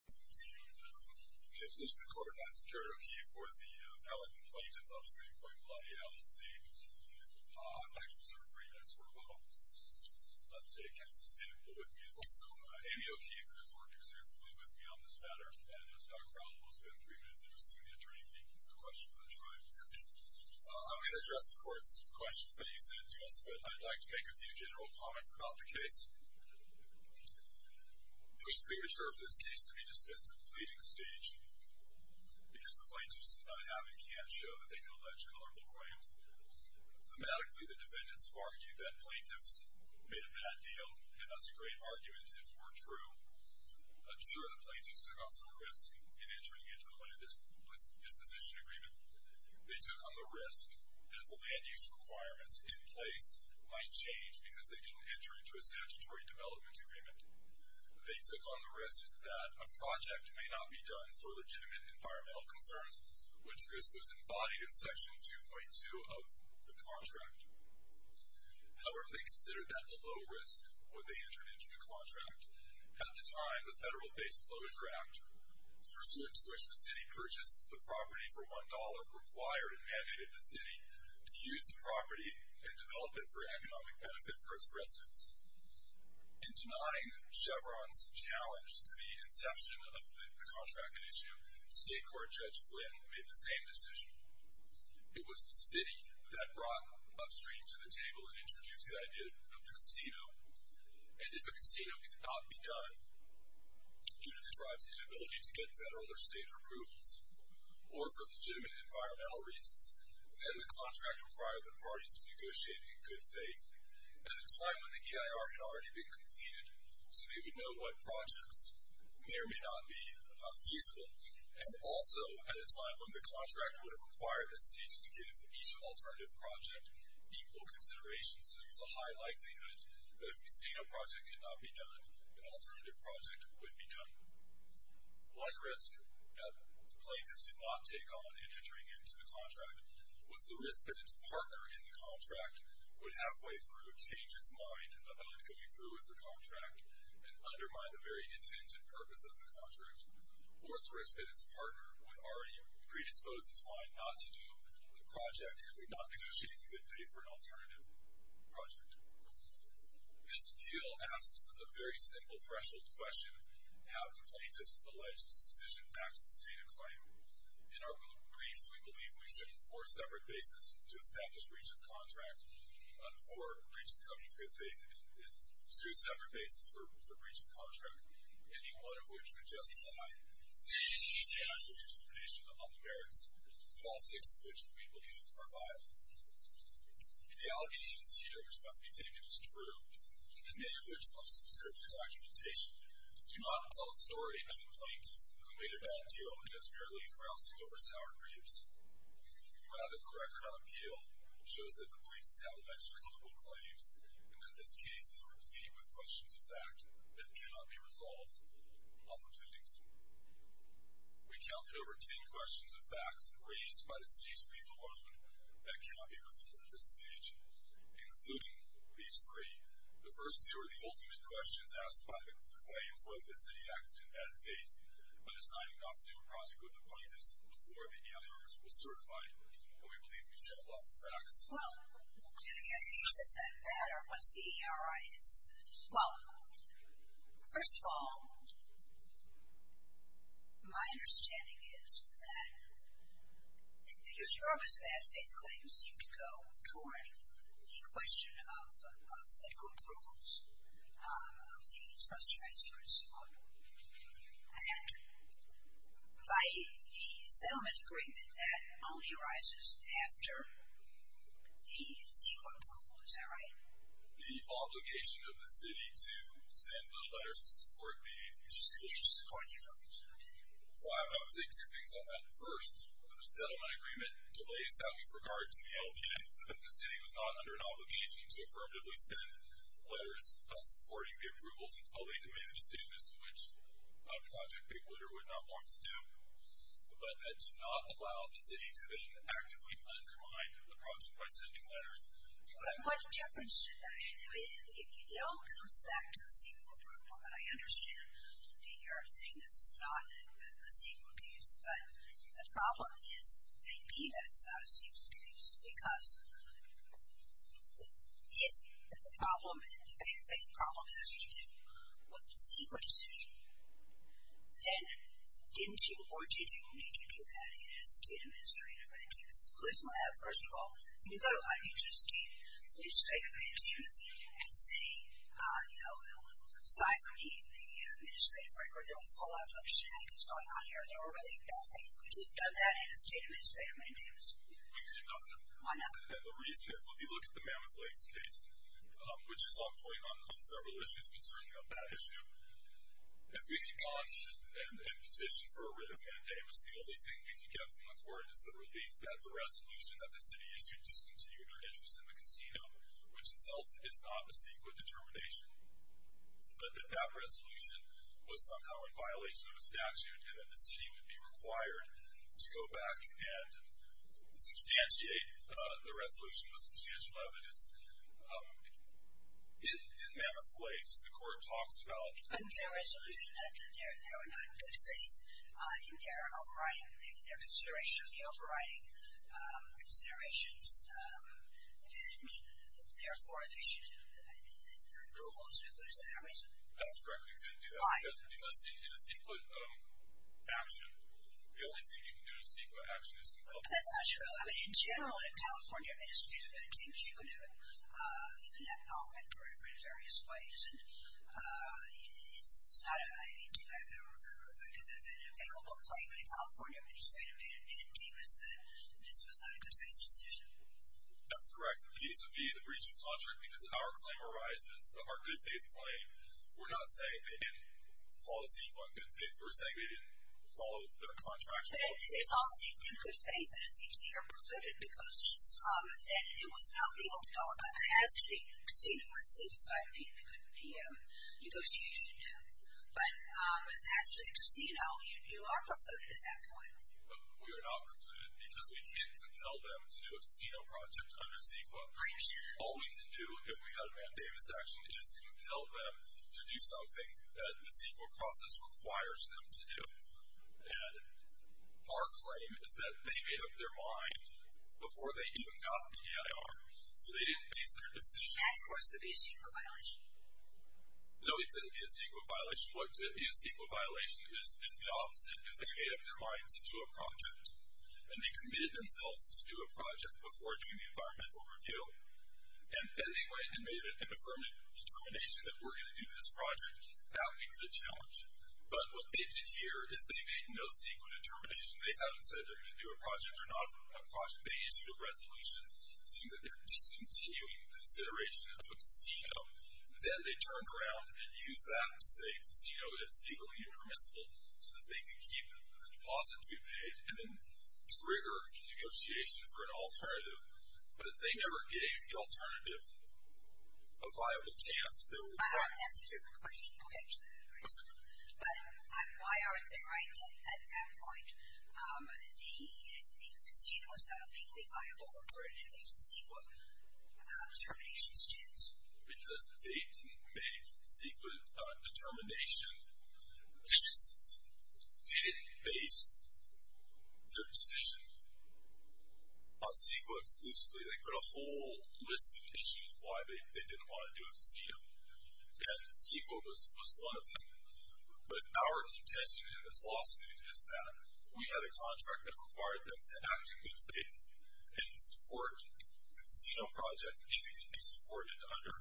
In addition to the court, I'm Jared O'Keefe for the Palatine Plaintiff Obstetrics and Gynecology LLC. I'd like to reserve three minutes for a while. Today, a counselor standing with me is also Amy O'Keefe, who has worked extensively with me on this matter. And there's no problem. We'll spend three minutes interesting the attorney for any questions on trial. I'm going to address the court's questions that you sent to us, but I'd like to make a few general comments about the case. I was premature for this case to be discussed at the pleading stage because the plaintiffs I have and can't show that they can allege culpable claims. Thematically, the defendants argued that plaintiffs made a bad deal, and that's a great argument if it were true. I'm sure the plaintiffs took on some risk in entering into the land disposition agreement. They took on the risk that the land use requirements in place might change because they didn't enter into a statutory development agreement. They took on the risk that a project may not be done for legitimate environmental concerns, which risk was embodied in Section 2.2 of the contract. However, they considered that a low risk when they entered into the contract. At the time, the Federal Base Closure Act, pursuant to which the city purchased the property for $1, required and mandated the city to use the property and develop it for economic benefit for its residents. In denying Chevron's challenge to the inception of the contract issue, State Court Judge Flynn made the same decision. It was the city that brought upstream to the table and introduced the idea of the casino, and if a casino could not be done due to the tribe's inability to get federal or state approvals, or for legitimate environmental reasons, then the contract required the parties to negotiate in good faith. At a time when the EIR had already been completed so they would know what projects may or may not be feasible, and also at a time when the contract would have required the city to give each alternative project equal consideration so there was a high likelihood that if a casino project could not be done, an alternative project would be done. One risk that plaintiffs did not take on in entering into the contract was the risk that its partner in the contract would halfway through change its mind about going through with the contract and undermine the very intent and purpose of the contract, or the risk that its partner would already predispose its mind not to do the project and would not negotiate in good faith for an alternative project. This appeal asks a very simple threshold question, how do plaintiffs allege sufficient facts to state a claim? In our briefs, we believe we stood on four separate bases to establish breach of contract or breach of covenant in good faith and two separate bases for breach of contract, any one of which would justify serious case allegations of predation on the merits of all six of which we believe are viable. The allegations here, which must be taken as true, in the name of which must be heard through argumentation, do not tell a story of a plaintiff who made a bad deal and is merely grousing over sour grapes. Rather, the record on appeal shows that the plaintiffs have extramarital claims and that this case is replete with questions of fact that cannot be resolved on proceedings. We counted over ten questions of facts raised by the city's brief alone that cannot be resolved at this stage, including these three. The first two are the ultimate questions asked by the claims whether the city acted in bad faith by deciding not to do a project with the plaintiffs before the ERIs were certified, and we believe these show lots of facts. Well, is that bad or what's the ERIs? Well, first of all, my understanding is that the strongest bad faith claims seem to go toward the question of of federal approvals, um, of the frustrations, and by the settlement agreement that only arises after the C-Corp approval, is that right? The obligation of the city to send the letters to support the approvals. To support the approvals. So I would say two things on that. First, the settlement agreement delays that with regard to the LVM so that the city was not under an obligation to affirmatively send letters supporting the approvals until they made a decision as to which project they would or would not want to do. But that did not allow the city to then actively undermine the project by sending letters. But, Jefferson, it all comes back to the C-Corp approval, and I understand the ERIs saying this is not a C-Corp use, but the problem is maybe that it's not a C-Corp use, because if it's a problem, a faith-based problem, it has to do with the C-Corp decision. And, in order to make you do that in a state administrative mandamus, at least in my lab, first of all, you need to go to IPG's state administrative mandamus and say, you know, aside from the administrative record, there was a whole lot of other shenanigans going on here, and there were really bad things, but you've done that in a state administrative mandamus. We could have done that. Why not? And the reason is, if you look at the Mammoth Lakes case, which is ongoing on several issues concerning that issue, if we had gone and petitioned for a writ of mandamus, the only thing we could get from the court is the relief that the resolution that the city issued discontinued our interest in the casino, which itself is not a C-Corp determination, but that that resolution was somehow in violation of a statute and that the city would be required to go back and substantiate, the resolution with substantial evidence. In Mammoth Lakes, the court talks about... And their resolution, they're not in good faith in their overriding, in their considerations, the overriding considerations, and therefore they should, their approval should lose their reason. That's correct. We couldn't do that. Why? Because in a CEQA action, the only thing you can do in a CEQA action That's not true. I mean, in general, in California, I just can't imagine that you can do it in that document, or in various ways, and it's not, I mean, I could take a local claimant in California, I could just say to him, and he would say, this was not a good faith decision. That's correct. In case of the breach of contract, because our claim arises, our good faith claim, we're not saying they didn't follow the CEQA on good faith, we're saying they didn't follow their contract. Okay. It's all CEQA good faith, and it seems to me you're precluded, because then it was not legal to ask the casino if they decided it wouldn't be a negotiation. But as to the casino, you are precluded at that point. We are not precluded, because we can't compel them to do a casino project under CEQA. Right. All we can do, if we had a Matt Davis action, is compel them to do something that the CEQA process requires them to do. And our claim is that they made up their mind before they even got the AIR, so they didn't base their decision. And of course, that'd be a CEQA violation. No, it couldn't be a CEQA violation. What could be a CEQA violation is the opposite. If they made up their mind to do a project, and they committed themselves to do a project before doing the environmental review, and then they went and made an affirmative determination that we're going to do this project, that would be a good challenge. But what they did here is they made no CEQA determination. They haven't said they're going to do a project or not a project. They issued a resolution saying that they're discontinuing consideration of a casino. Then they turned around and used that to say the casino is legally impermissible so that they could keep the deposit to be paid and then trigger negotiation for an alternative. But they never gave the alternative a viable chance. That answers your question. Okay. But why aren't they right at that point? The casino is not legally viable for an invasive CEQA determination stance. Because they didn't make CEQA determinations. They didn't base their decision on CEQA exclusively. They put a whole list of issues of why they didn't want to do a casino. And CEQA was one of them. But our intention in this lawsuit is that we have a contract that required them to act in good faith and support a casino project if it can be supported under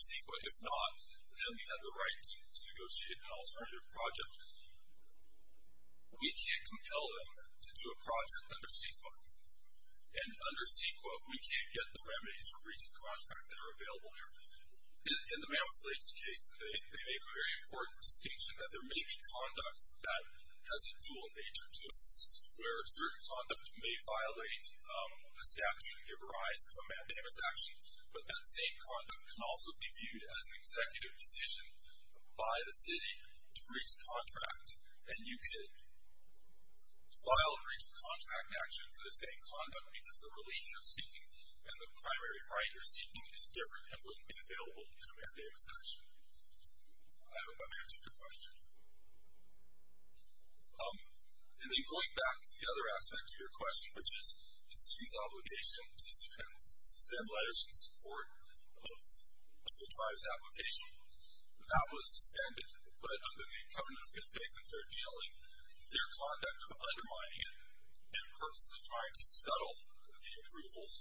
CEQA. If not, then we have the right to negotiate an alternative project. We can't compel them to do a project under CEQA. And under CEQA, we can't get the remedies for breach of contract that are available here. In the Mammoth Lakes case, they make a very important distinction that there may be conduct that has a dual nature to it, where certain conduct may violate a statute if it arises from mandamus action, but that same conduct can also be viewed as an executive decision by the city to breach a contract. And you could file a breach of contract action for the same conduct because the relief you're seeking and the primary right you're seeking is different and wouldn't be available in a mandamus action. I hope I've answered your question. And then going back to the other aspect of your question, which is the city's obligation to send letters in support of the tribe's application, that was suspended. But under the covenant of good faith and fair dealing, their conduct of undermining it serves the purpose of trying to scuttle the approvals,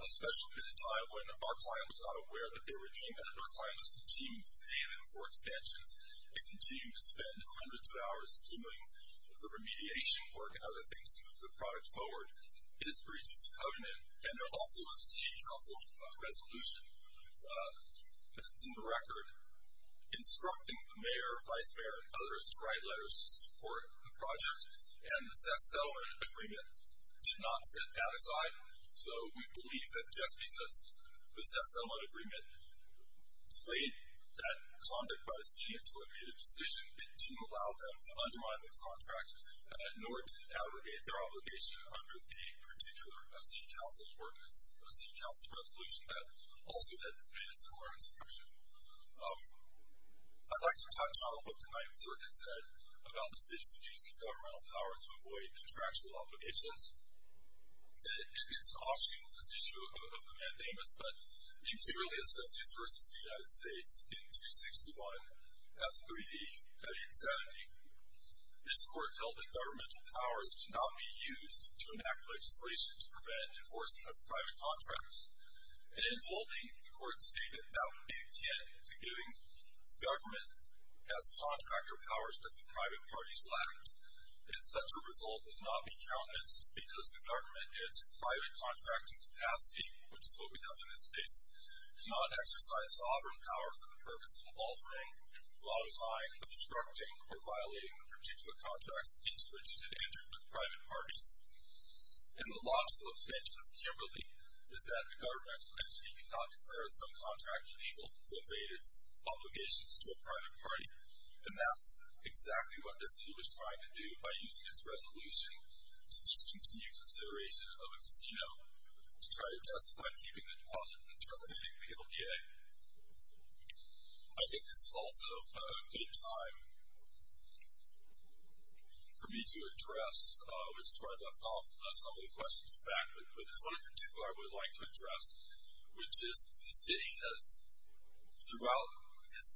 especially at a time when our client was not aware that they were doing that, and our client was continuing to pay them for extensions and continue to spend hundreds of hours doing the remediation work and other things to move the product forward. It is breached in the covenant, and there also was a City Council resolution that's in the record, instructing the mayor, vice mayor, and others to write letters to support the project, and the self-settlement agreement did not set that aside. So we believe that just because the self-settlement agreement delayed that conduct by the city until it made a decision, it didn't allow them to undermine the contract, nor did it abrogate their obligation under the particular City Council ordinance, City Council resolution that also had made a similar instruction. I'd like to touch on what the 9th Circuit said about the city's abuse of governmental power to avoid contractual obligations. It's an offshoot of this issue of the mandamus, but it particularly associates versus the United States in 261, 3d, 870. This court held that governmental powers should not be used to enact legislation to prevent enforcement of private contractors, and in holding, the court stated that would be akin to giving government as contractor powers that the private parties lacked, and such a result would not be countenanced because the government in its private contracting capacity, which is what we have in this case, cannot exercise sovereign power for the purpose of altering, modifying, obstructing, or violating the particular contracts into which it had entered with private parties. And the logical extension of Kimberly is that the governmental entity cannot declare its own contract illegal to evade its obligations to a private party, and that's exactly what the city was trying to do by using its resolution to discontinue consideration of a casino to try to testify to keeping the deposit and terminating the LDA. I think this is also a good time for me to address, which is where I left off some of the questions in fact, but there's one in particular I would like to address, which is the city has, throughout its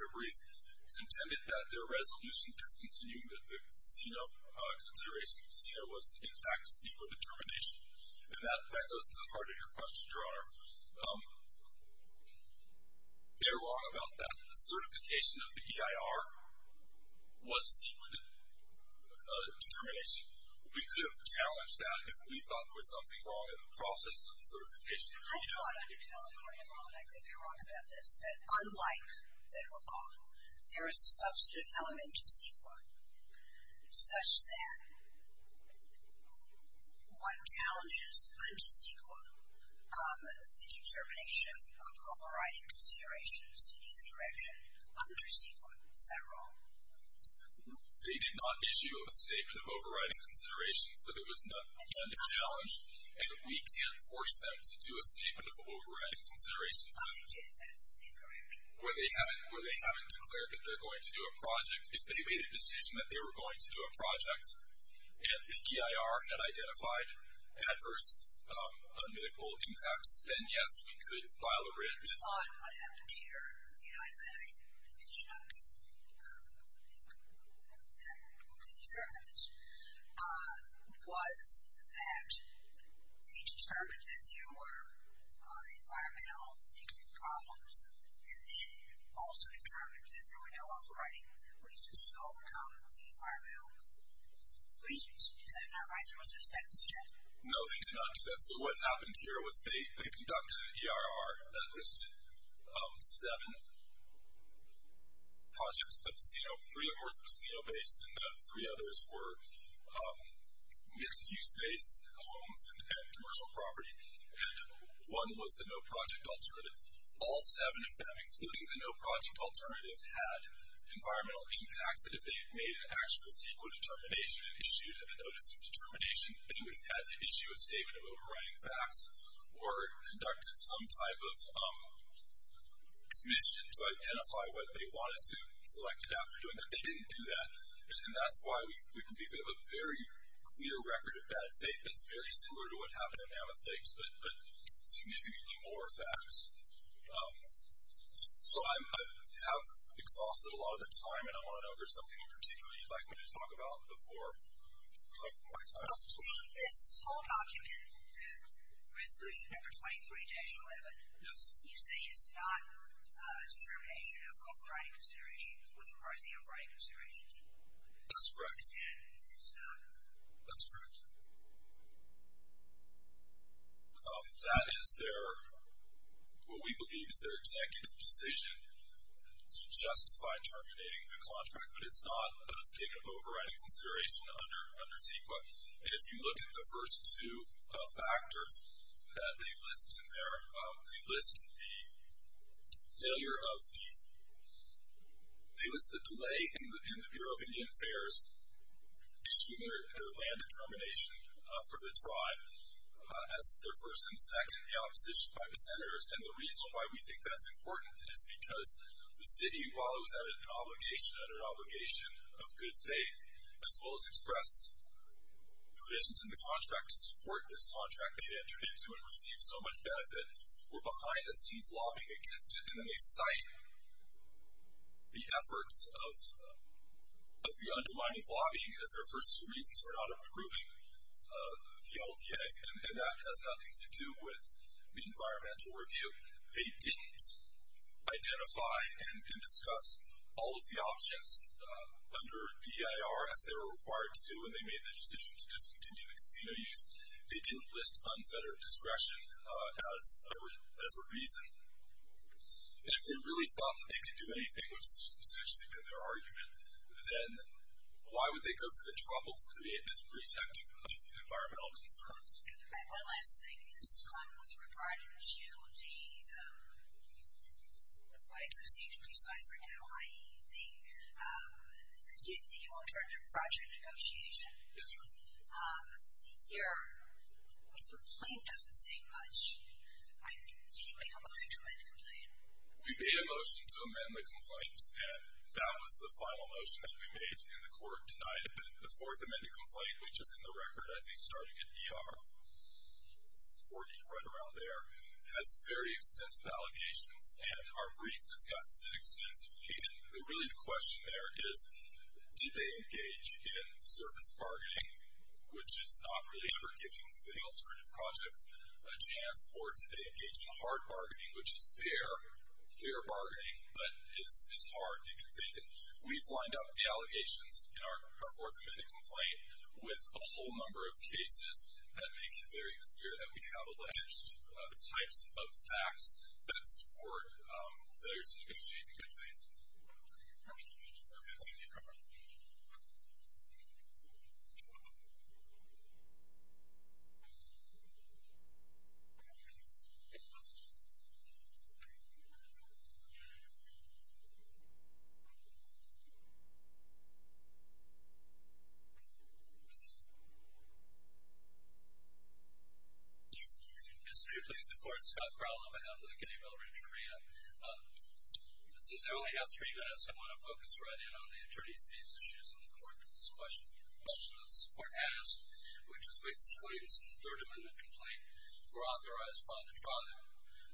brief, contended that their resolution discontinuing consideration of the casino was in fact a secret determination, and that goes to the heart of your question, Your Honor. They're wrong about that. The certification of the EIR was a secret determination. We could have challenged that if we thought there was something wrong with the process of certification. I thought under California law, and I could be wrong about this, that unlike federal law, there is a substantive element to CEQA such that one challenges under CEQA the determination of overriding considerations in either direction under CEQA. Is that wrong? They did not issue a statement of overriding considerations, so there was not a challenge, and we can't force them to do a statement of overriding considerations where they haven't declared that they're going to do a project. If they made a decision that they were going to do a project and the EIR had identified adverse medical impacts, then yes, we could file a written... I thought what happened here, and then I mentioned that the determinants, was that they determined that there were environmental problems and then also determined that there were no overriding reasons to overcome the environmental reasons. Is that not right? There was a second step. No, they did not do that. So what happened here was they conducted an EIR that listed seven projects, three of which were casino-based and the three others were mixed-use-based homes and commercial property, and one was the no-project alternative. All seven of them, including the no-project alternative, had environmental impacts that if they had made an actual CEQA determination and issued a notice of determination, they would have had to issue a statement of overriding facts or conducted some type of commission to identify what they wanted to select after doing that. They didn't do that, and that's why we believe we have a very clear record of bad faith that's very similar to what happened at Mammoth Lakes but significantly more facts. So I have exhausted a lot of the time, and I want to know if there's something in particular you'd like me to talk about before my time is up. This whole document, resolution number 23-11, you say it's not a determination of overriding considerations. It was proposed to be overriding considerations. That's correct. That's correct. That is their, what we believe is their executive decision to justify terminating the contract, but it's not a mistake of overriding consideration under CEQA. And if you look at the first two factors that they list in there, they list the failure of the, they list the delay in the Bureau of Indian Affairs issuing their land determination for the tribe as their first and second in the opposition by the senators, and the reason why we think that's important is because the city, while it was at an obligation of good faith, as well as express provisions in the contract to support this contract that they entered into and received so much benefit, were behind the scenes lobbying against it, and then they cite the efforts of the undermining lobbying as their first two reasons for not approving the LDA, and that has nothing to do with the environmental review. They didn't identify and discuss all of the options under DIR as they were required to do when they made the decision to discontinue the casino use. They didn't list unfettered discretion as a reason. And if they really thought that they could do anything, which has essentially been their argument, then why would they go through the trouble to create this pretext of environmental concerns? And my last thing is kind of with regard to the, what I do see to be slides right now, i.e. the alternative project negotiation. Yes, ma'am. Your complaint doesn't say much. Do you make a motion to amend the complaint? We made a motion to amend the complaint, and that was the final motion that we made, and the court denied it. The fourth amended complaint, which is in the record, I think, starting at ER 40, right around there, has very extensive allegations, and our brief discusses it extensively. And really the question there is, did they engage in surface bargaining, which is not really ever giving the alternative project a chance, or did they engage in hard bargaining, which is fair, fair bargaining, but is hard and confusing? We've lined up the allegations in our fourth amended complaint with a whole number of cases that make it very clear that we have alleged the types of facts that support those. Do you see anything? Okay, thank you. Go ahead. Mr. Chief, please support Scott Crowell on behalf of the Kennedy Village Area. Since I only have three minutes, I want to focus right in on the attorneys' case issues, and the court has a question. The question that the court asked, which is which claims in the third amended complaint were authorized by the tribe.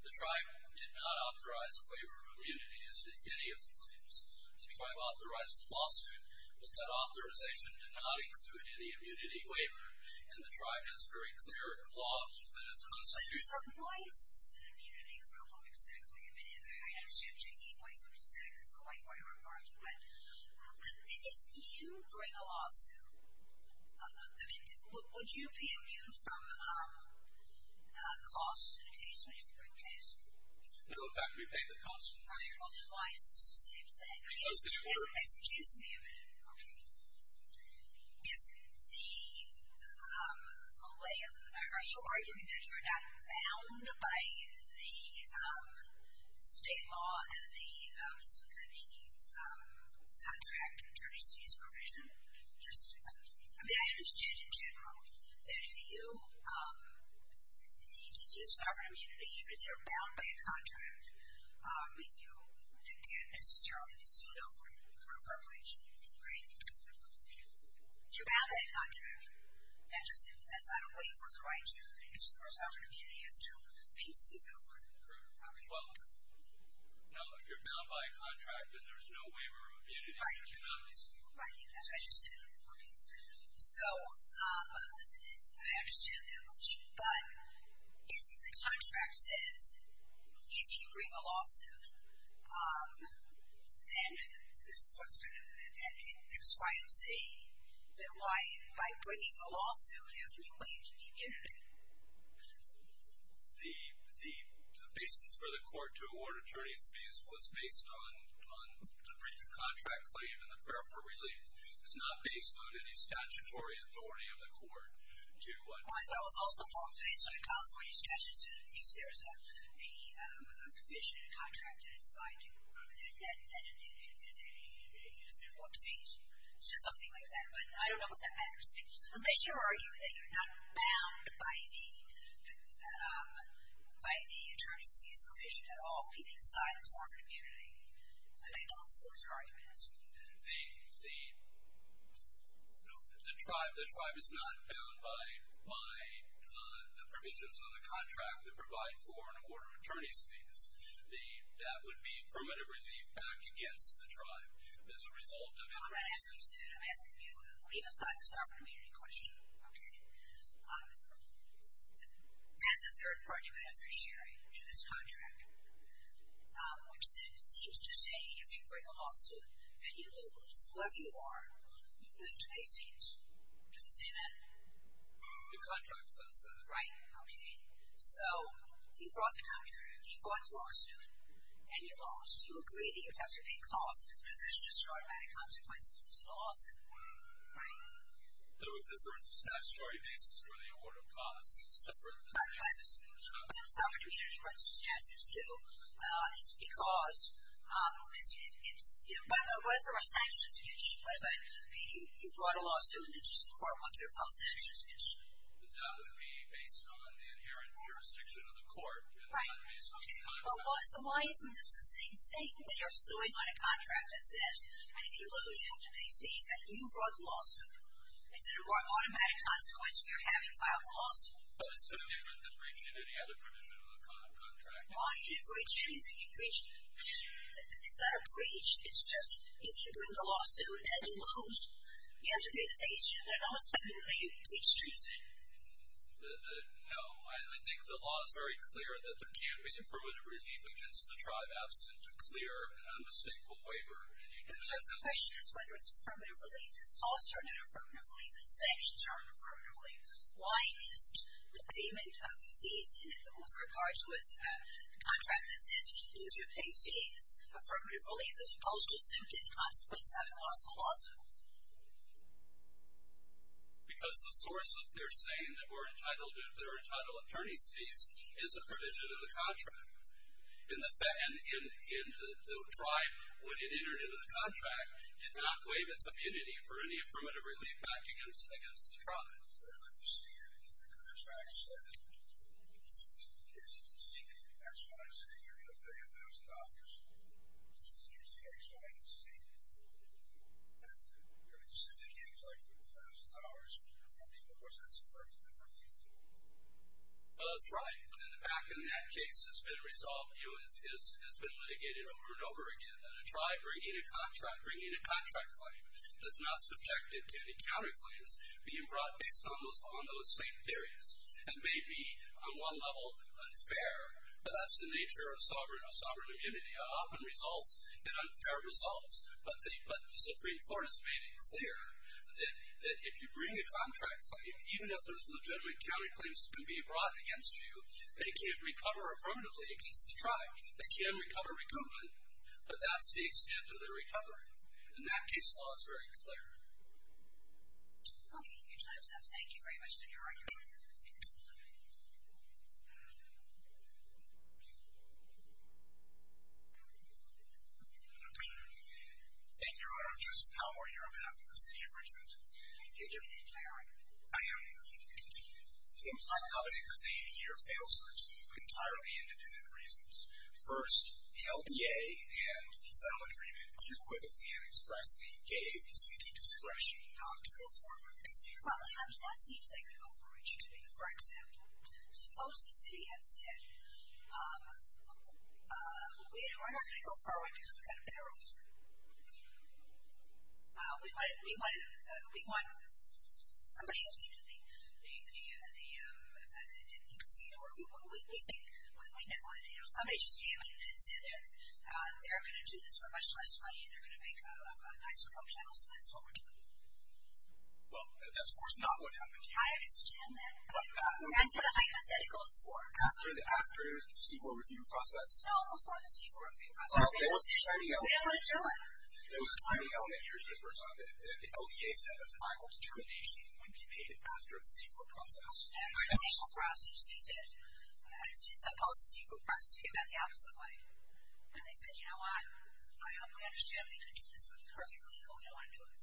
The tribe did not authorize a waiver of immunity, as did any of the claims. The tribe authorized the lawsuit, but that authorization did not include any immunity waiver, and the tribe has very clear laws within its constitution. So if you bring a lawsuit, would you be immune from costs in a case when you bring a case? No, in fact, we pay the cost. Right, well, twice, same thing. Excuse me a minute. Okay. Are you arguing that you're not bound by the state law and the contract attorney's fees provision? I mean, I understand in general that if you have sovereign immunity, if you're bound by a contract, then you can't necessarily be sued over for infringement. Right? If you're bound by a contract, that's not a waiver of the right to have sovereign immunity, it's to be sued over. Correct. Well, if you're bound by a contract and there's no waiver of immunity, you cannot be sued over. Right, that's what I just said. Okay. So I understand that much, but if the contract says if you bring a lawsuit, then that's why you're saying that by bringing a lawsuit, there's no waiver of immunity. The basis for the court to award attorney's fees was based on the breach of contract claim and the prayer for relief. It's not based on any statutory authority of the court. I thought it was also formally stated in the California statute that if there is a provision in a contract that is binding, then it is an important fee. It's just something like that. But I don't know what that matters. Unless you're arguing that you're not bound by the attorney's fees provision at all, meaning the size of sovereign immunity, I don't see what your argument is. The tribe is not bound by the provisions on the contract that provide for an award of attorney's fees. That would be primitive relief back against the tribe as a result of it. I'm not asking you to do it. I'm asking you to leave aside the sovereign immunity question. Okay. That's a third-party beneficiary to this contract, which seems to say if you bring a lawsuit and you lose, whoever you are, you have to pay fees. Does it say that? The contract says that. Right. Okay. So you brought the country, you brought the lawsuit, and you lost. You agree that you have to pay costs, but is this just an automatic consequence of losing a lawsuit? Right. No, because there is a statutory basis for the award of costs separate from the basis for the sovereign immunity. It's because it's, you know, what if there were sanctions against you? What if you brought a lawsuit and it's just a part of what they're called sanctions against you? That would be based on the inherent jurisdiction of the court and not based on the contract. Right. Okay. So why isn't this the same thing when you're suing on a contract that says, and if you lose, you have to pay fees, and you brought the lawsuit? Is it an automatic consequence of you having filed the lawsuit? Well, it's so different than breaching any other provision of a contract. Why? You can breach anything you can breach. It's not a breach. It's just if you bring the lawsuit and you lose, you have to pay the fees. Is there an alternative way you can breach treason? No. I think the law is very clear that there can be a permanent relief against the tribe absent a clear and unmistakable waiver. The question is whether it's a permanent relief. If costs are not a permanent relief and sanctions are not a permanent relief, why isn't the payment of fees in it with regards with the contract that says, if you lose, you pay fees, affirmative relief, as opposed to simply the consequence of having lost the lawsuit? Because the source of their saying that we're entitled to attorneys' fees is a provision of the contract. And the tribe, when it entered into the contract, did not waive its immunity for any affirmative relief back against the tribe. I understand. The contract said if you take X, Y, and Z, you're going to pay $1,000. If you take X, Y, and Z and you're going to syndicate and collect $1,000 from me, of course, that's affirmative relief. That's right. And the fact in that case has been resolved. It has been litigated over and over again. A tribe bringing a contract, bringing a contract claim, does not subject it to any counterclaims being brought based on those same theories. It may be, on one level, unfair. That's the nature of sovereign immunity. It often results in unfair results. But the Supreme Court has made it clear that if you bring a contract claim, even if there's legitimate counterclaims being brought against you, they can't recover affirmatively against the tribe. They can recover recoupment. But that's the extent of their recovery. And that case law is very clear. Okay. Your time stops. Thank you very much for your argument. Thank you, Your Honor. Justin Palmer here on behalf of the city of Richmond. You're doing a great job. I am. I'm not going to claim your fail-suits for entirely individual reasons. First, the LDA and the settlement agreement equivocally and expressly gave the city discretion not to go forward with the casino. Well, sometimes that seems like an overreach to me. For example, suppose the city had said, we're not going to go forward because we've got a better offer. We want somebody else to do the casino. Somebody just came in and said they're going to do this for much less money and they're going to make a nicer home channel, so that's what we're doing. Well, that's, of course, not what happened here. I understand that. That's what a hypothetical is for. After the Seaboard review process. No, before the Seaboard review process. They don't want to do it. There was a standing element here that the LDA said a final determination would be made after the Seaboard process. After the Seaboard process, they said, this is supposed to be a Seaboard process. It's going to be about the opposite way. And they said, you know what? I understand they could do this perfectly, but we don't want to do it.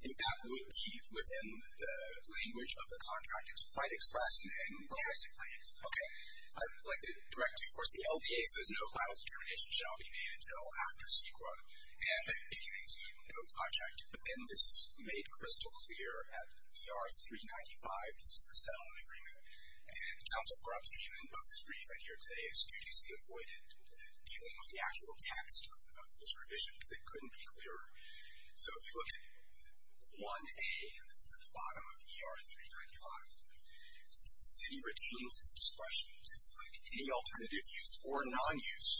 And that would be within the language of the contract. It was quite express. Yes, it was quite express. Okay. I'd like to direct you, of course, the LDA says no final determination shall be made until after Seaboard. And if you include no project, but then this is made crystal clear at ER395. This is the settlement agreement. And counsel for upstream of this brief I hear today is duties be avoided dealing with the actual text of this provision because it couldn't be clearer. So if you look at 1A, and this is at the bottom of ER395, since the city retains its discretion, this is like any alternative use or non-use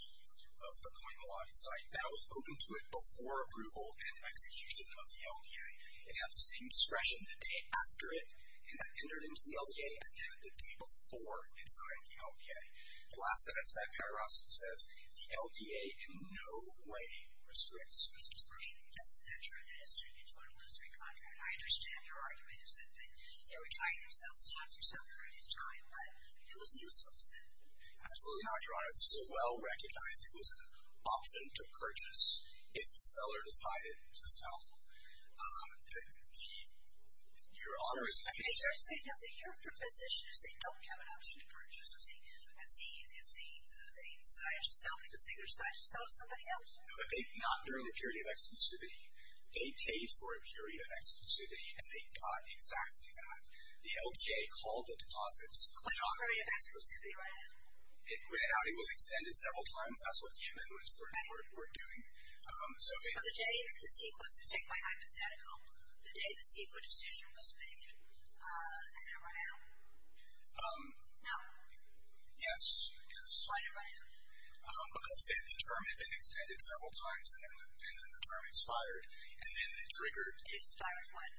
of the Coimbatore site. That was open to it before approval and execution of the LDA. It had the same discretion the day after it entered into the LDA as it had the day before it signed the LDA. The last sentence by Paragraphs says, the LDA in no way restricts this discretion. Yes, that's right. And it's true. It's one illusory contract. And I understand your argument is that they were trying themselves down for some period of time, but it was useful to them. Absolutely not, Your Honor. It was an option to purchase if the seller decided to sell. Your Honor is... Your proposition is they don't have an option to purchase if they decide to sell because they decide to sell to somebody else. Not during the period of exclusivity. They paid for a period of exclusivity, and they got exactly that. The LDA called the deposits. A period of exclusivity, right? It was extended several times. That's what the amendments were doing. For the day that the CEQA, to take my hypothetical, the day the CEQA decision was made, they didn't run out? No. Yes, because... Why didn't it run out? Because the term had been extended several times, and then the term expired, and then they triggered... It expired when?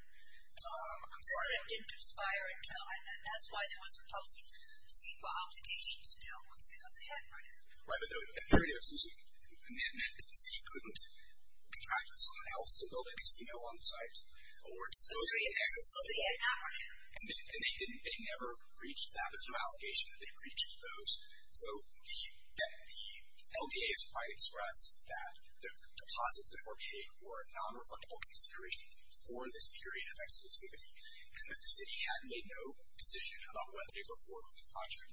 I'm sorry. It didn't expire until, and that's why there was a post-CEQA obligation still, was because they hadn't run out. Right, but the period of exclusivity, and that meant that the city couldn't contract with someone else to build a casino on the site, or dispose of the excess... So the LDA had not run out. And they never breached that. There was no allegation that they breached those. So the LDA has tried to express that the deposits that were paid were a non-refundable consideration for this period of exclusivity, and that the city had made no decision about whether they were for or against the project.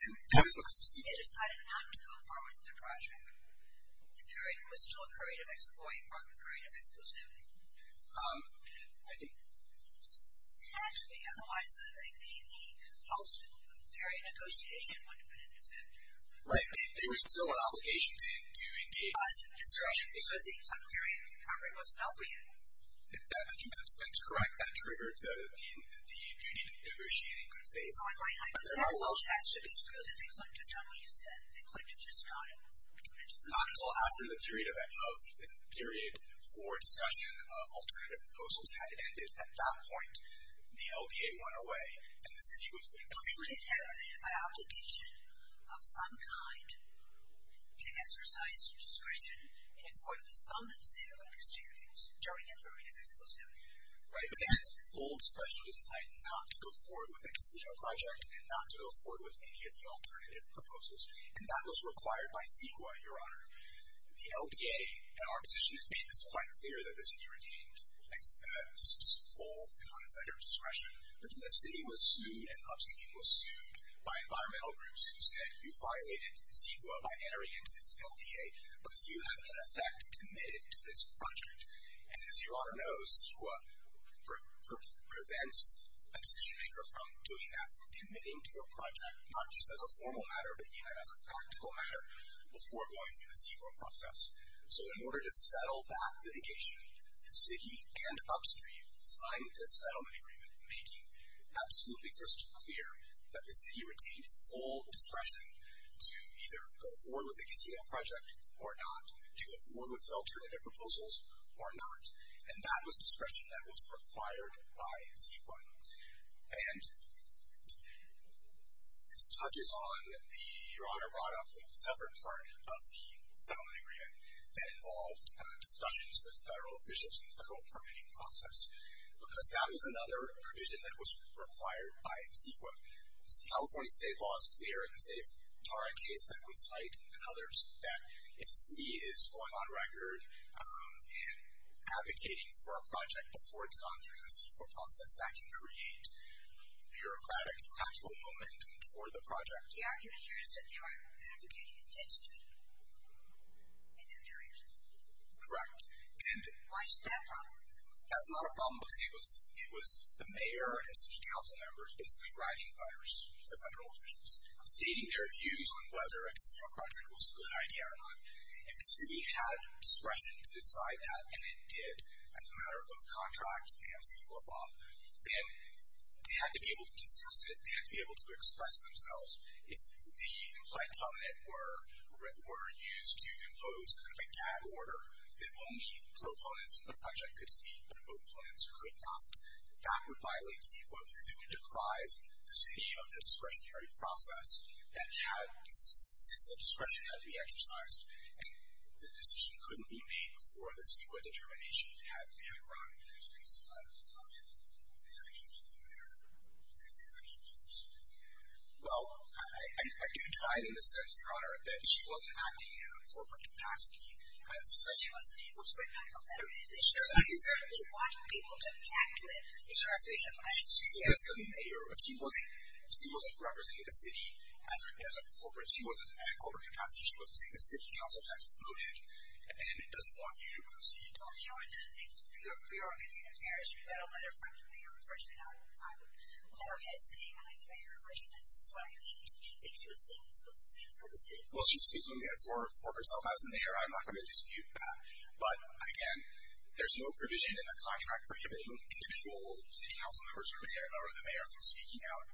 And that was because the CEQA decided not to go forward with the project. The period was still a period of exploiting, not a period of exclusivity. Um, I think... Actually, otherwise the post-Ukrainian negotiation wouldn't have been an event. Right. There was still an obligation to engage... Because the Ukrainian recovery wasn't out for you. That's correct. That triggered the union negotiating good faith. Oh, I know. Well, it has to be true. Because if they clicked a W, you said, they could have just got it. Not until after the period for discussion of alternative proposals had ended. At that point, the LDA went away, and the city was... I mean, it had an obligation of some kind to exercise discretion in accordance with some of the CEQA constitutions during a period of exclusivity. Right, but they had full discretion to decide not to go forward with a concessional project and not to go forward with any of the alternative proposals. And that was required by CEQA, Your Honor. The LDA, in our position, has made this quite clear, that the city retained its full non-offender discretion. But then the city was sued, and upstream was sued, by environmental groups who said, you violated CEQA by entering into this LDA because you have, in effect, committed to this project. And as Your Honor knows, CEQA prevents a decision-maker from doing that, from committing to a project, not just as a formal matter, but even as a practical matter, before going through the CEQA process. So in order to settle that litigation, the city and upstream signed this settlement agreement, making absolutely crystal clear that the city retained full discretion to either go forward with a concessional project or not, to go forward with alternative proposals or not. And that was discretion that was required by CEQA. And this touches on, Your Honor, brought up the separate part of the settlement agreement that involved discussions with federal officials in the federal permitting process, because that was another provision that was required by CEQA. California state law is clear in the Safe-Tara case that we cite and others that if the city is going on record in advocating for a project before it's gone through the CEQA process, that can create bureaucratic and practical momentum toward the project. The argument here is that they were advocating against it in that direction. Correct. Why is that a problem? That's not a problem because it was the mayor and city council members basically writing letters to federal officials, stating their views on whether a concessional project was a good idea or not. If the city had discretion to decide that, and it did as a matter of contract and CEQA law, then they had to be able to discuss it. They had to be able to express themselves. If the implied covenant were used to impose kind of a gag order that only proponents of the project could speak, but opponents could not, that would violate CEQA because it would deprive the city of the discretionary process and the discretion had to be exercised, and the decision couldn't be made before the CEQA determination had been wrong. I don't understand. I don't know if you have any reaction to the mayor or anything like that. Well, I do divide in the sense, Your Honor, that she wasn't acting in a corporate capacity. She wasn't able to write a letter. I mean, she certainly wasn't able to talk to him. It's her official actions. She wasn't representing the city as a corporate. She wasn't in a corporate capacity. She wasn't seeing the city council tax looted, and it doesn't want you to proceed. Well, she speaks for herself as a mayor. I'm not going to dispute that. But, again, there's no provision in the contract prohibiting individual city council members or the mayor from speaking out.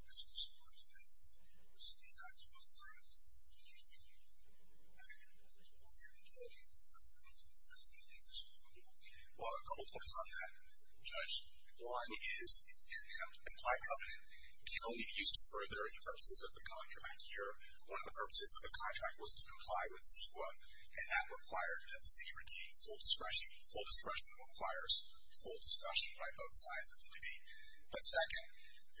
Well, a couple points on that, Judge. One is it's an implied covenant. It can only be used to further the purposes of the contract here. One of the purposes of the contract was to comply with CEQA, and that required that the city receive full discretion. Full discretion requires full discussion by both sides of the debate. But, second.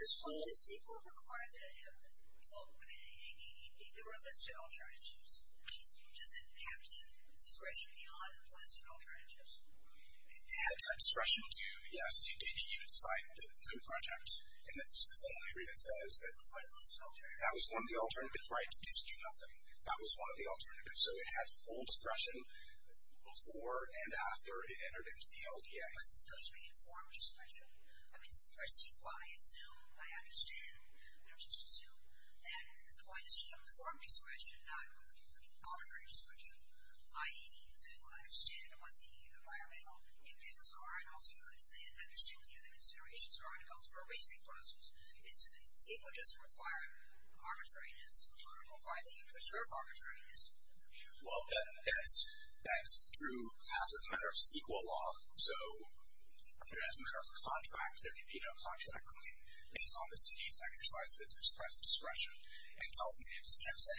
It had discretion to, yes, to give you insight into the project, and this is the same agreement that says that that was one of the alternatives, right, to do nothing. That was one of the alternatives. So, it had full discretion before and after it entered into the LDA. Well, that's true, perhaps, as a matter of CEQA law. So, as a matter of contract, there can be no contract claim based on the city's exercise of its express discretion. In California, it's just that.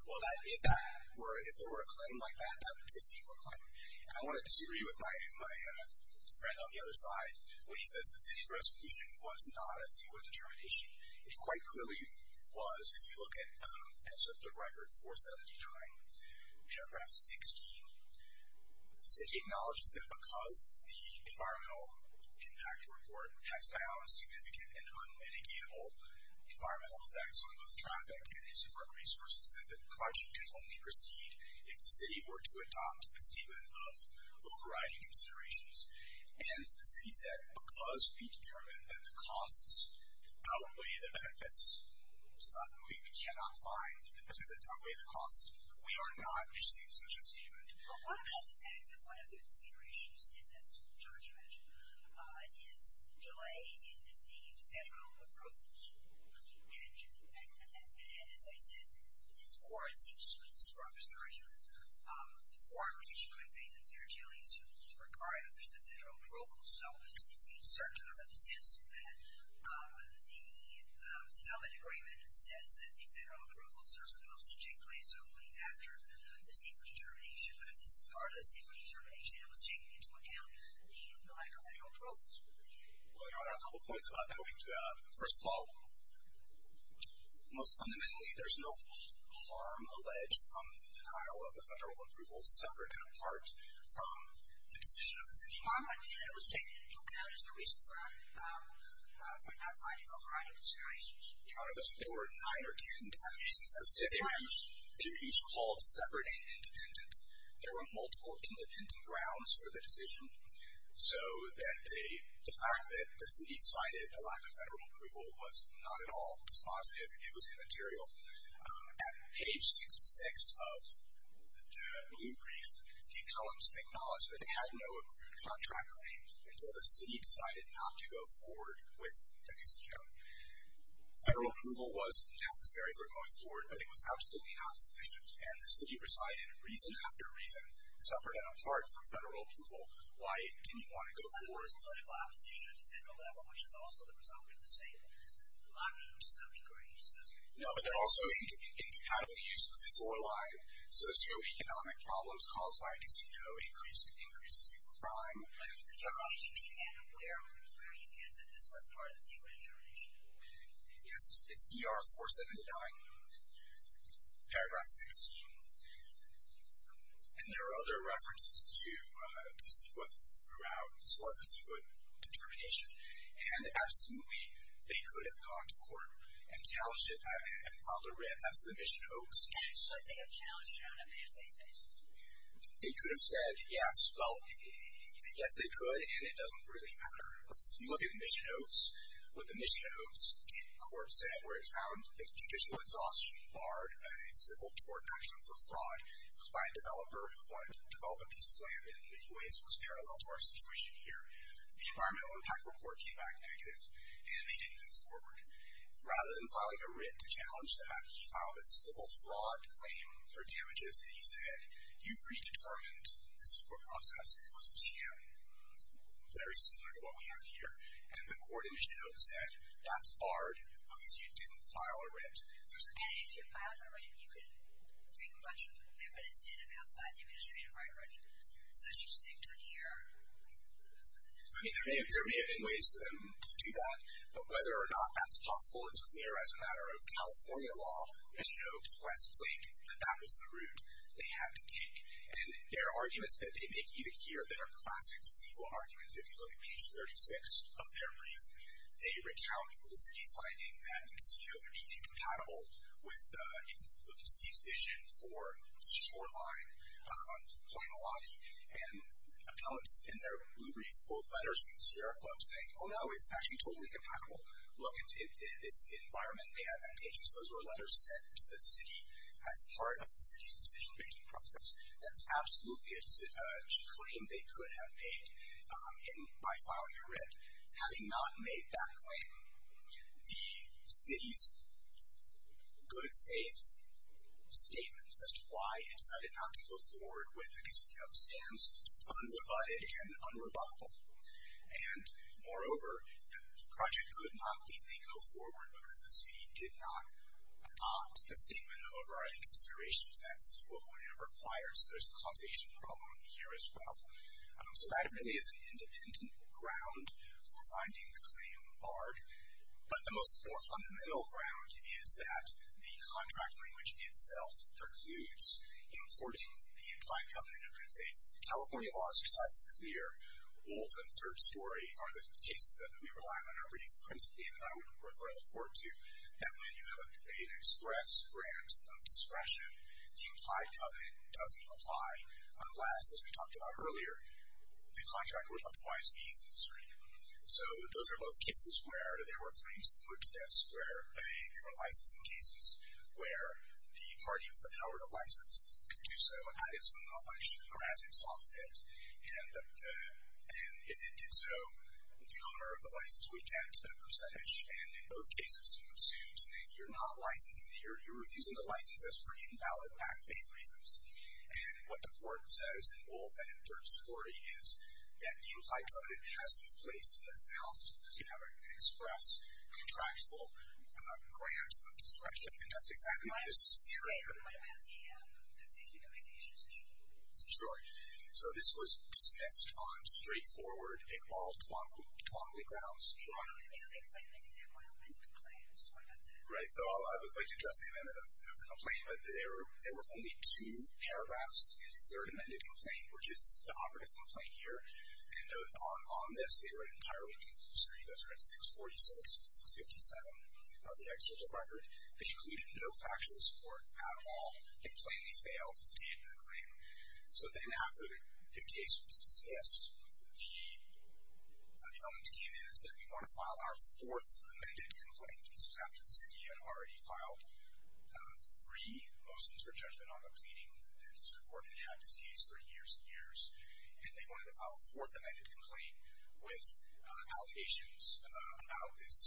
Well, if there were a claim like that, that would be a CEQA claim. And I want to disagree with my friend on the other side when he says the city's resolution was not a CEQA determination. It quite clearly was, if you look at the record 479, paragraph 16, the city acknowledges that because the environmental impact report had found significant and unmitigatable environmental effects on both traffic and use of park resources, that the project could only proceed if the city were to adopt a statement of a variety of considerations. And the city said, because we determined that the costs outweigh the benefits, we cannot find the benefits outweigh the costs. We are not issuing such a statement. Well, one of the considerations in this charge measure is delaying the federal approvals. And, as I said, this warrant seems to be in a strong position. The warrant would be issued by faith and fair dealings, which is required under the federal approvals. So it seems certain to me in the sense that the settlement agreement says that the federal approvals are supposed to take place only after the CEQA determination. But if this is part of the CEQA determination, it was taking into account the lack of federal approvals. Well, Your Honor, I have a couple points about that. First of all, most fundamentally, there's no harm alleged from the denial of the federal approvals separate and apart from the decision of the city. The harm that was taken into account is the reason for not finding a variety of considerations. Your Honor, there were nine or 10 different reasons. They were each called separate and independent. There were multiple independent grounds for the decision, so that the fact that the city cited a lack of federal approval was not at all dispositive. It was immaterial. At page 66 of the blue brief, the columns acknowledge that they had no accrued contract claims until the city decided not to go forward with the CEQA. Federal approval was necessary for going forward, but it was absolutely not sufficient, and the city recited reason after reason, separate and apart from federal approval. Why didn't you want to go forward? Because there was political opposition at the federal level, which is also the result of the sale. I mean, to some degree. No, but there also is incompatible use of the floor line. Socioeconomic problems caused by a casino increases your crime. Your Honor, is it true, and where do you get that this was part of the secret information? Yes, it's ER 479, paragraph 16. And there are other references to CEQA throughout. This was a CEQA determination, and absolutely they could have gone to court and challenged it and filed a writ as the mission hoax. So they have challenged it on a mandate basis? They could have said yes. Well, yes, they could, and it doesn't really matter. If you look at the mission hoax, what the mission hoax court said, where it found that judicial exhaustion barred a civil court action for fraud by a developer who wanted to develop a piece of land in many ways was parallel to our situation here. The environmental impact report came back negative, and they didn't go forward. Rather than filing a writ to challenge that, he filed a civil fraud claim for damages, and he said, you predetermined the CEQA process. It was a sham, very similar to what we have here. And the court in mission hoax said, that's barred because you didn't file a writ. And if you filed a writ, you could bring a bunch of evidence in outside the administrative right, right? So she's thinking here. I mean, there may have been ways for them to do that, but whether or not that's possible, it's clear as a matter of California law, mission hoax, Westlake, that that was the route they had to take. And there are arguments that they make either here that are classic CEQA arguments. If you look at page 36 of their brief, they recount the city's finding that the CEO had been incompatible with the city's vision for shoreline, Point Malawi. And appellants in their blue brief quote letters from the Sierra Club saying, oh, no, it's actually totally compatible. Look, it's environment may have advantages. Those were letters sent to the city as part of the city's decision-making process. That's absolutely a claim they could have made. And by filing a writ, having not made that claim, the city's good faith statement as to why it decided not to go forward with a casino stands unrebutted and unrebuttable. And, moreover, the project could not let them go forward because the city did not adopt a statement of overriding considerations. That's what one requires. There's a causation problem here as well. So that really is the independent ground for finding the claim barred. But the most more fundamental ground is that the contract language itself precludes importing the implied covenant of good faith. The California law is quite clear. All of them, third story, are the cases that we rely on in our brief. And I would refer the court to that when you have an express grant of discretion, the implied covenant doesn't apply. Unless, as we talked about earlier, the contract would otherwise be in the street. So those are both cases where there were claims similar to this, where there were licensing cases where the party with the power to license could do so at its own election or as it saw fit. And if it did so, the owner of the license would get a percentage. And in both cases, it assumes you're not licensing, you're refusing to license this for invalid back faith reasons. And what the court says in both, and in third story, is that the implied covenant has to be placed in this house because you have an express contractual grant of discretion. And that's exactly what this is fearing. Right. What about the faith unionization situation? Sure. So this was dismissed on straightforward and called Twombly grounds. Right. Because I think there might have been complaints about that. Right. So I would like to address the amendment of the complaint. But there were only two paragraphs in the third amended complaint, which is the operative complaint here. And on this, they were entirely conclusory. Those are in 646 and 657 of the actual record. They included no factual support at all. They plainly failed to stand the claim. So then after the case was dismissed, the owner came in and said, we want to file our fourth amended complaint. This was after the city had already filed three motions for judgment on a pleading. The district court had had this case for years and years. And they wanted to file a fourth amended complaint with allegations about this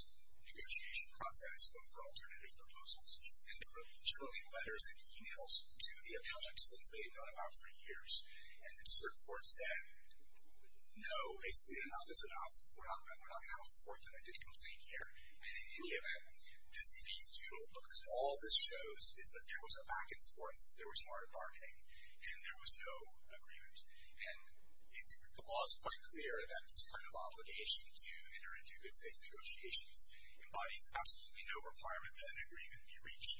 negotiation process, both for alternative proposals, and generally letters and emails to the appellants, things they had known about for years. And the district court said, no, basically enough is enough. We're not going to have a fourth amended complaint here. And in any event, just to be suitable, because all this shows is that there was a back and forth. There was hard bargaining. And there was no agreement. And the law is quite clear that this kind of obligation to enter into good faith negotiations embodies absolutely no requirement that an agreement be reached.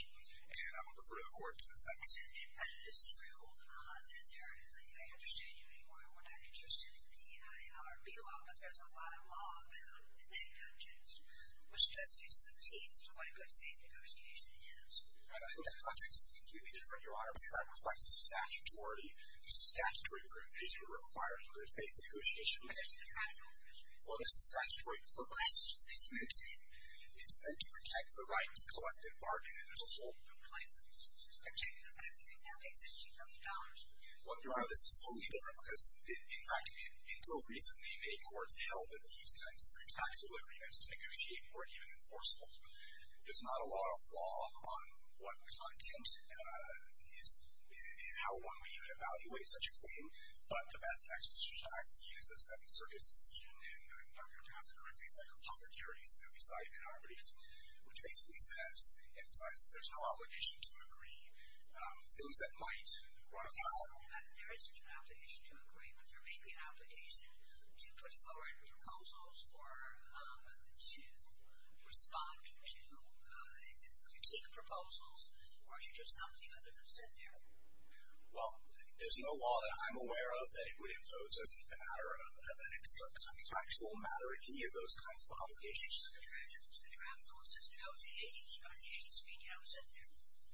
And I will defer to the court in a second. It's true that there is a, I understand you, Your Honor, we're not interested in the EIRB law, but there's a lot of law about it in that context, which does give some hints to what a good faith negotiation is. I think that context is completely different, Your Honor, because that reflects a statutory provision required in good faith negotiations. But there's a contractual provision. Well, there's a statutory provision. It's meant to protect the right to collective bargaining as a whole. Okay. Well, Your Honor, this is totally different, because, in fact, until recently, many courts held that these kinds of contractual agreements to negotiate weren't even enforceable. There's not a lot of law on what content is, how one would even evaluate such a claim. But the best text of such an action is the Seventh Circuit's decision, and I'm not going to pronounce it correctly, but it's like a public heurist that we cite in our brief, which basically says, emphasizes there's no obligation to agree. Things that might run out. There isn't an obligation to agree, but there may be an obligation to put forward proposals or to respond to critique proposals or to do something other than sit there. Well, there's no law that I'm aware of that it would impose as a matter of, that it's a contractual matter, any of those kinds of obligations. It's a contractual system. How is it negotiating? It's not a negotiation scheme. You're not going to sit there. No, there's no requirement. There's no requirement. This contract specifies that if we propose A, you're going to propose B, that you have to negotiate. So if you sit there, I really thought you were going to say, I just don't think you did. But if they just sat there and said, okay, I'm here for two hours, and you sit there and don't say anything, come back for two hours next week, and you sit there and don't say anything, I presume it's not negotiating. Because they asked, what makes it not negotiating? Well, that might not be enough.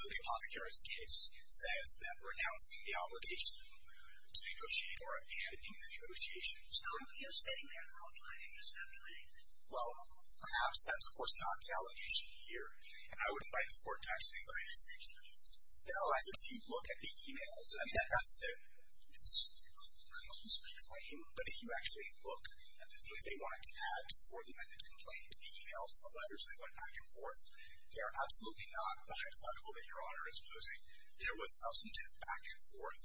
So the apothecary's case says that we're announcing the obligation to negotiate or abandoning the negotiation. So you're sitting there the whole time and just not doing anything? Well, perhaps that's, of course, not the allegation here. And I would invite the court to actually look at it. No, I mean, if you look at the e-mails. I mean, that's the complaint. But if you actually look at the things they wanted to add before the amendment complaint, the e-mails, the letters, they went back and forth. They are absolutely not defundable that Your Honor is proposing. There was substantive back and forth.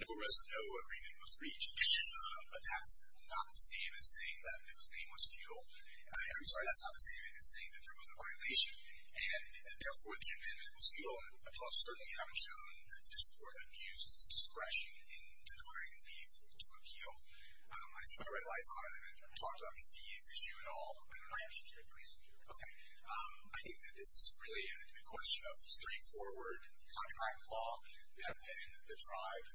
No agreement was reached. But that's not the same as saying that the claim was futile. I'm sorry, that's not the same as saying that there was a violation. And therefore, the amendment was futile. I certainly haven't shown that this Court abused its discretion in declaring a leave to appeal. I see my red lights on. I haven't talked about the fees issue at all. My actions are at your discretion, Your Honor. Okay. I think that this is really a question of straightforward contract law. And the tribe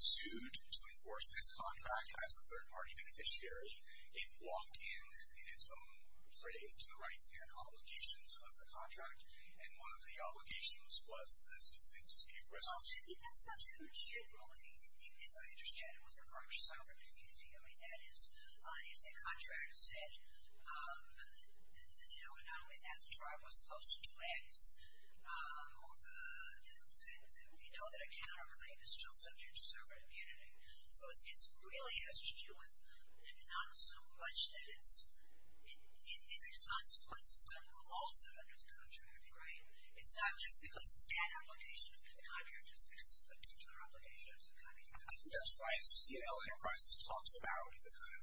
sued to enforce this contract as a third-party beneficiary. It walked in in its own phrase to the rights and obligations of the contract. And one of the obligations was the specific dispute resolution. I mean, that's not so general, as I understand it, with regards to sovereign immunity. I mean, that is, if the contract said, you know, not only is that the tribe was supposed to do X, we know that a counterclaim is still subject to sovereign immunity. So it really has to do with not so much that it's a consequence of what the law said under the contract, right? It's not just because it's an obligation under the contract, it's because it's a particular obligation. That's right. So C&L Enterprises talks about the kind of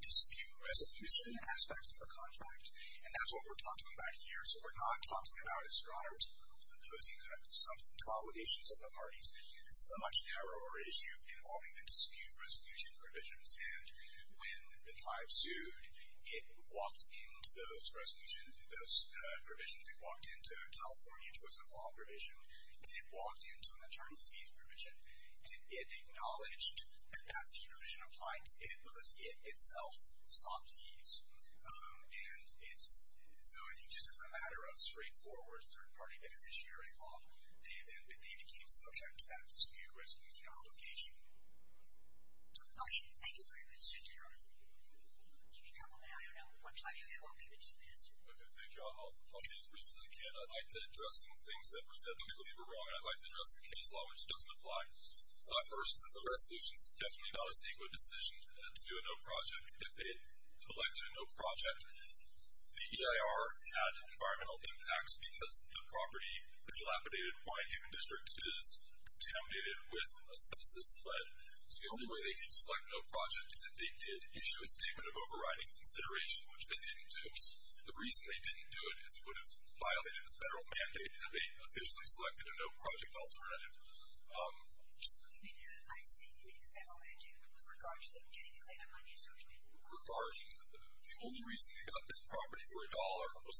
dispute resolution aspects of the contract. And that's what we're talking about here. So what we're not talking about is, Your Honor, is proposing some substantive obligations of the parties. This is a much narrower issue involving the dispute resolution provisions. And when the tribe sued, it walked into those resolutions, it walked into those provisions, it walked into a California choice of law provision, it walked into an attorney's fees provision, and it acknowledged that that fee provision applied because it itself sought fees. And so I think just as a matter of straightforward third-party beneficiary law, they became subject to that dispute resolution obligation. Okay. Thank you very much, Mr. General. Do you need help on that? I don't know. I'll give it to you. Okay. Thank you. I'll be as brief as I can. I'd like to address some things that were said that we believe are wrong, and I'd like to address the case law, which doesn't apply. First, the resolution is definitely not a CEQA decision to do a no project. If they had selected a no project, the EIR had environmental impacts because the property, the dilapidated Hawaiian Human District, is contaminated with asbestos lead. So the only way they could select no project is if they did issue a statement of overriding consideration, which they didn't do. The reason they didn't do it is it would have violated the federal mandate to have a officially selected a no project alternative. You mean the federal mandate was regarded as getting the claim on my new social network? Regarding the only reason they got this property for a dollar was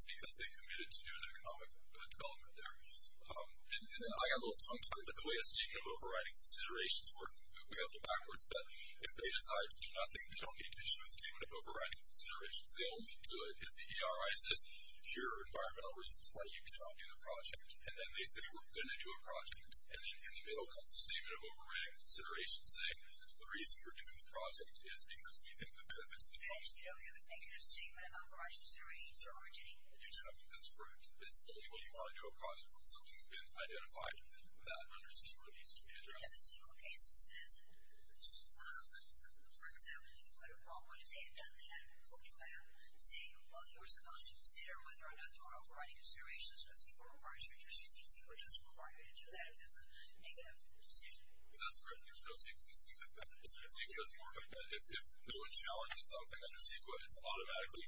And I got a little tongue-tied, but the way a statement of overriding consideration is working, we got a little backwards. But if they decide to do nothing, they don't need to issue a statement of overriding considerations. They only do it if the ERI says, here are environmental reasons why you cannot do the project. And then they say, we're going to do a project. And then in the middle comes a statement of overriding considerations saying the reason you're doing the project is because we think the benefits of the project. You don't even make a statement of overriding considerations you're already getting. You do. I think that's correct. It's only when you want to do a project that something's been identified that under CEQA needs to be addressed. We have a CEQA case that says, for example, you could write a wrong one. If they had done that, who would you have? Say, well, you were supposed to consider whether or not to override considerations because CEQA requires you to do that. CEQA doesn't require you to do that if there's a negative decision. That's correct. There's no CEQA case like that. CEQA doesn't work like that. If no one challenges something under CEQA, it's automatically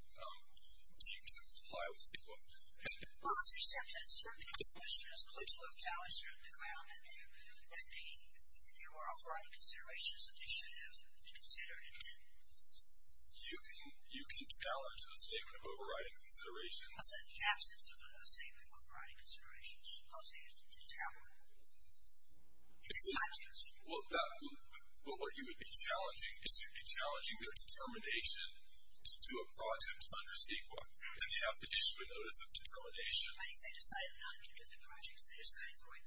deemed to comply with CEQA. Well, I was just going to add, certainly if the administrator is going to have challenged you on the ground that there were overriding considerations, that they should have considered it then. You can challenge a statement of overriding considerations. I'll say in the absence of a statement of overriding considerations, I'll say it's not challenged. But what you would be challenging is you'd be challenging their determination to do a project under CEQA, and you have to issue a notice of determination. I think they decided not to do the project because they decided to throw a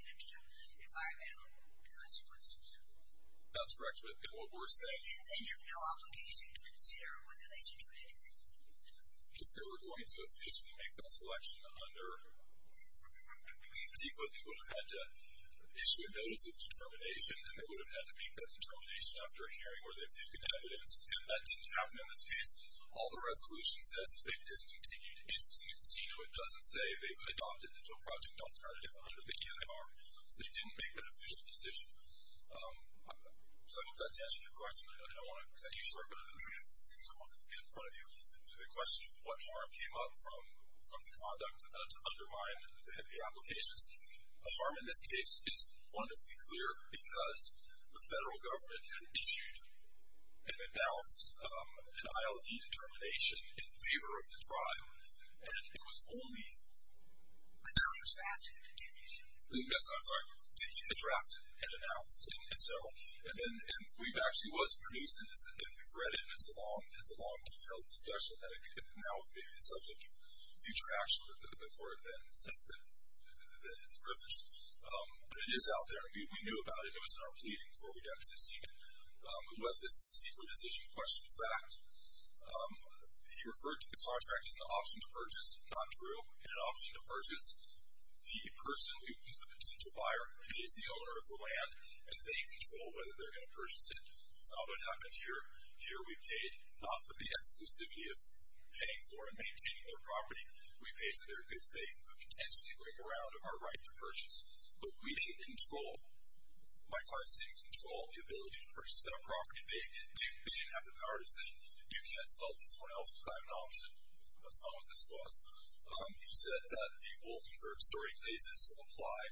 negative environmental consequence. That's correct. And what we're saying is they have no obligation to consider whether they should do it anyway. If they were going to officially make that selection under CEQA, they would have had to issue a notice of determination, and they would have had to make that determination after a hearing where they've taken evidence. And that didn't happen in this case. All the resolution says is they've discontinued CEQA. It doesn't say they've adopted a project alternative under the EIR, so they didn't make that official decision. So I hope that's answered your question. I don't want to cut you short, but I do want to get in front of you and do the question of what harm came up from the conduct to undermine the applications. The harm in this case is wonderfully clear because the federal government had issued and announced an ILG determination in favor of the trial, and it was only drafted and announced. And we've actually produced this, and we've read it, and it's a long, detailed discussion, and now it may be the subject of future action with the court, and it's a privilege. But it is out there. We knew about it. It was in our pleading before we got to this hearing. We let this CEQA decision question fact. He referred to the contract as an option to purchase. Not true. An option to purchase. The person who is the potential buyer pays the owner of the land, and they control whether they're going to purchase it. That's not what happened here. Here we paid not for the exclusivity of paying for and maintaining their property. We paid for their good faith to potentially bring around our right to purchase. But we didn't control, my clients didn't control, the ability to purchase that property. They didn't have the power to say, you can't sell it to someone else because I have an option. That's not what this was. He said that the Wolf and Third Story cases apply.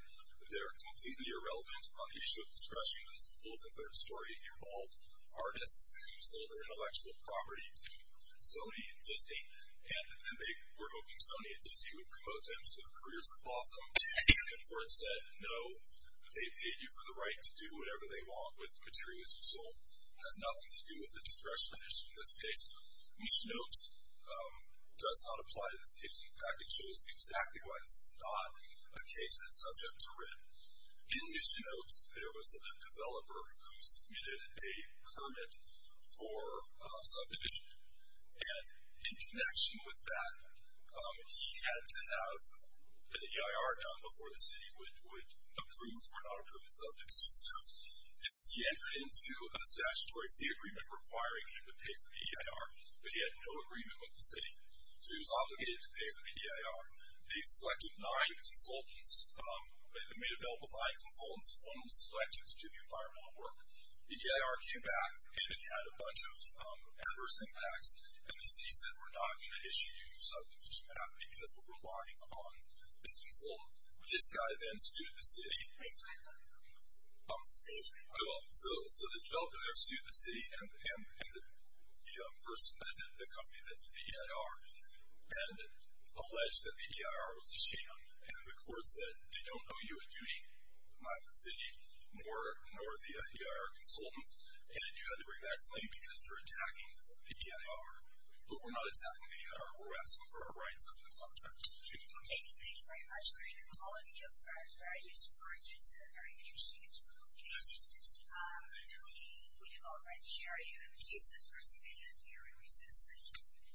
They're completely irrelevant on the issue of discretion, because Wolf and Third Story involved artists who sold their intellectual property to Sony and Disney, and they were hoping Sony and Disney would promote them so their careers would blossom. Ten years before it said, no, they paid you for the right to do whatever they want with materials you sold. It has nothing to do with the discretion issue in this case. Mishnopes does not apply to this case. In fact, it shows exactly why this is not a case that's subject to writ. In Mishnopes, there was a developer who submitted a permit for subdivision, and in connection with that, he had to have an EIR done before the city would approve or not approve the subdivision. He entered into a statutory fee agreement requiring him to pay for the EIR, but he had no agreement with the city. So he was obligated to pay for the EIR. They selected nine consultants. They made available nine consultants. One was selected to do the environmental work. The EIR came back and it had a bunch of adverse impacts, and the city said we're not going to issue you subdivision payment because we're relying on this consultant. This guy then sued the city. So the developer there sued the city, and the person that did it, the company that did the EIR, and alleged that the EIR was a sham, and the court said they don't owe you a duty, neither the city nor the EIR consultants, and you had to bring that claim because you're attacking the EIR. But we're not attacking the EIR. We're asking for our rights under the contract. Thank you. Thank you very much, Larry. All of you for a very useful report. It's a very interesting and useful case. We have already shared your cases for subdivision. We are in recess. Thank you.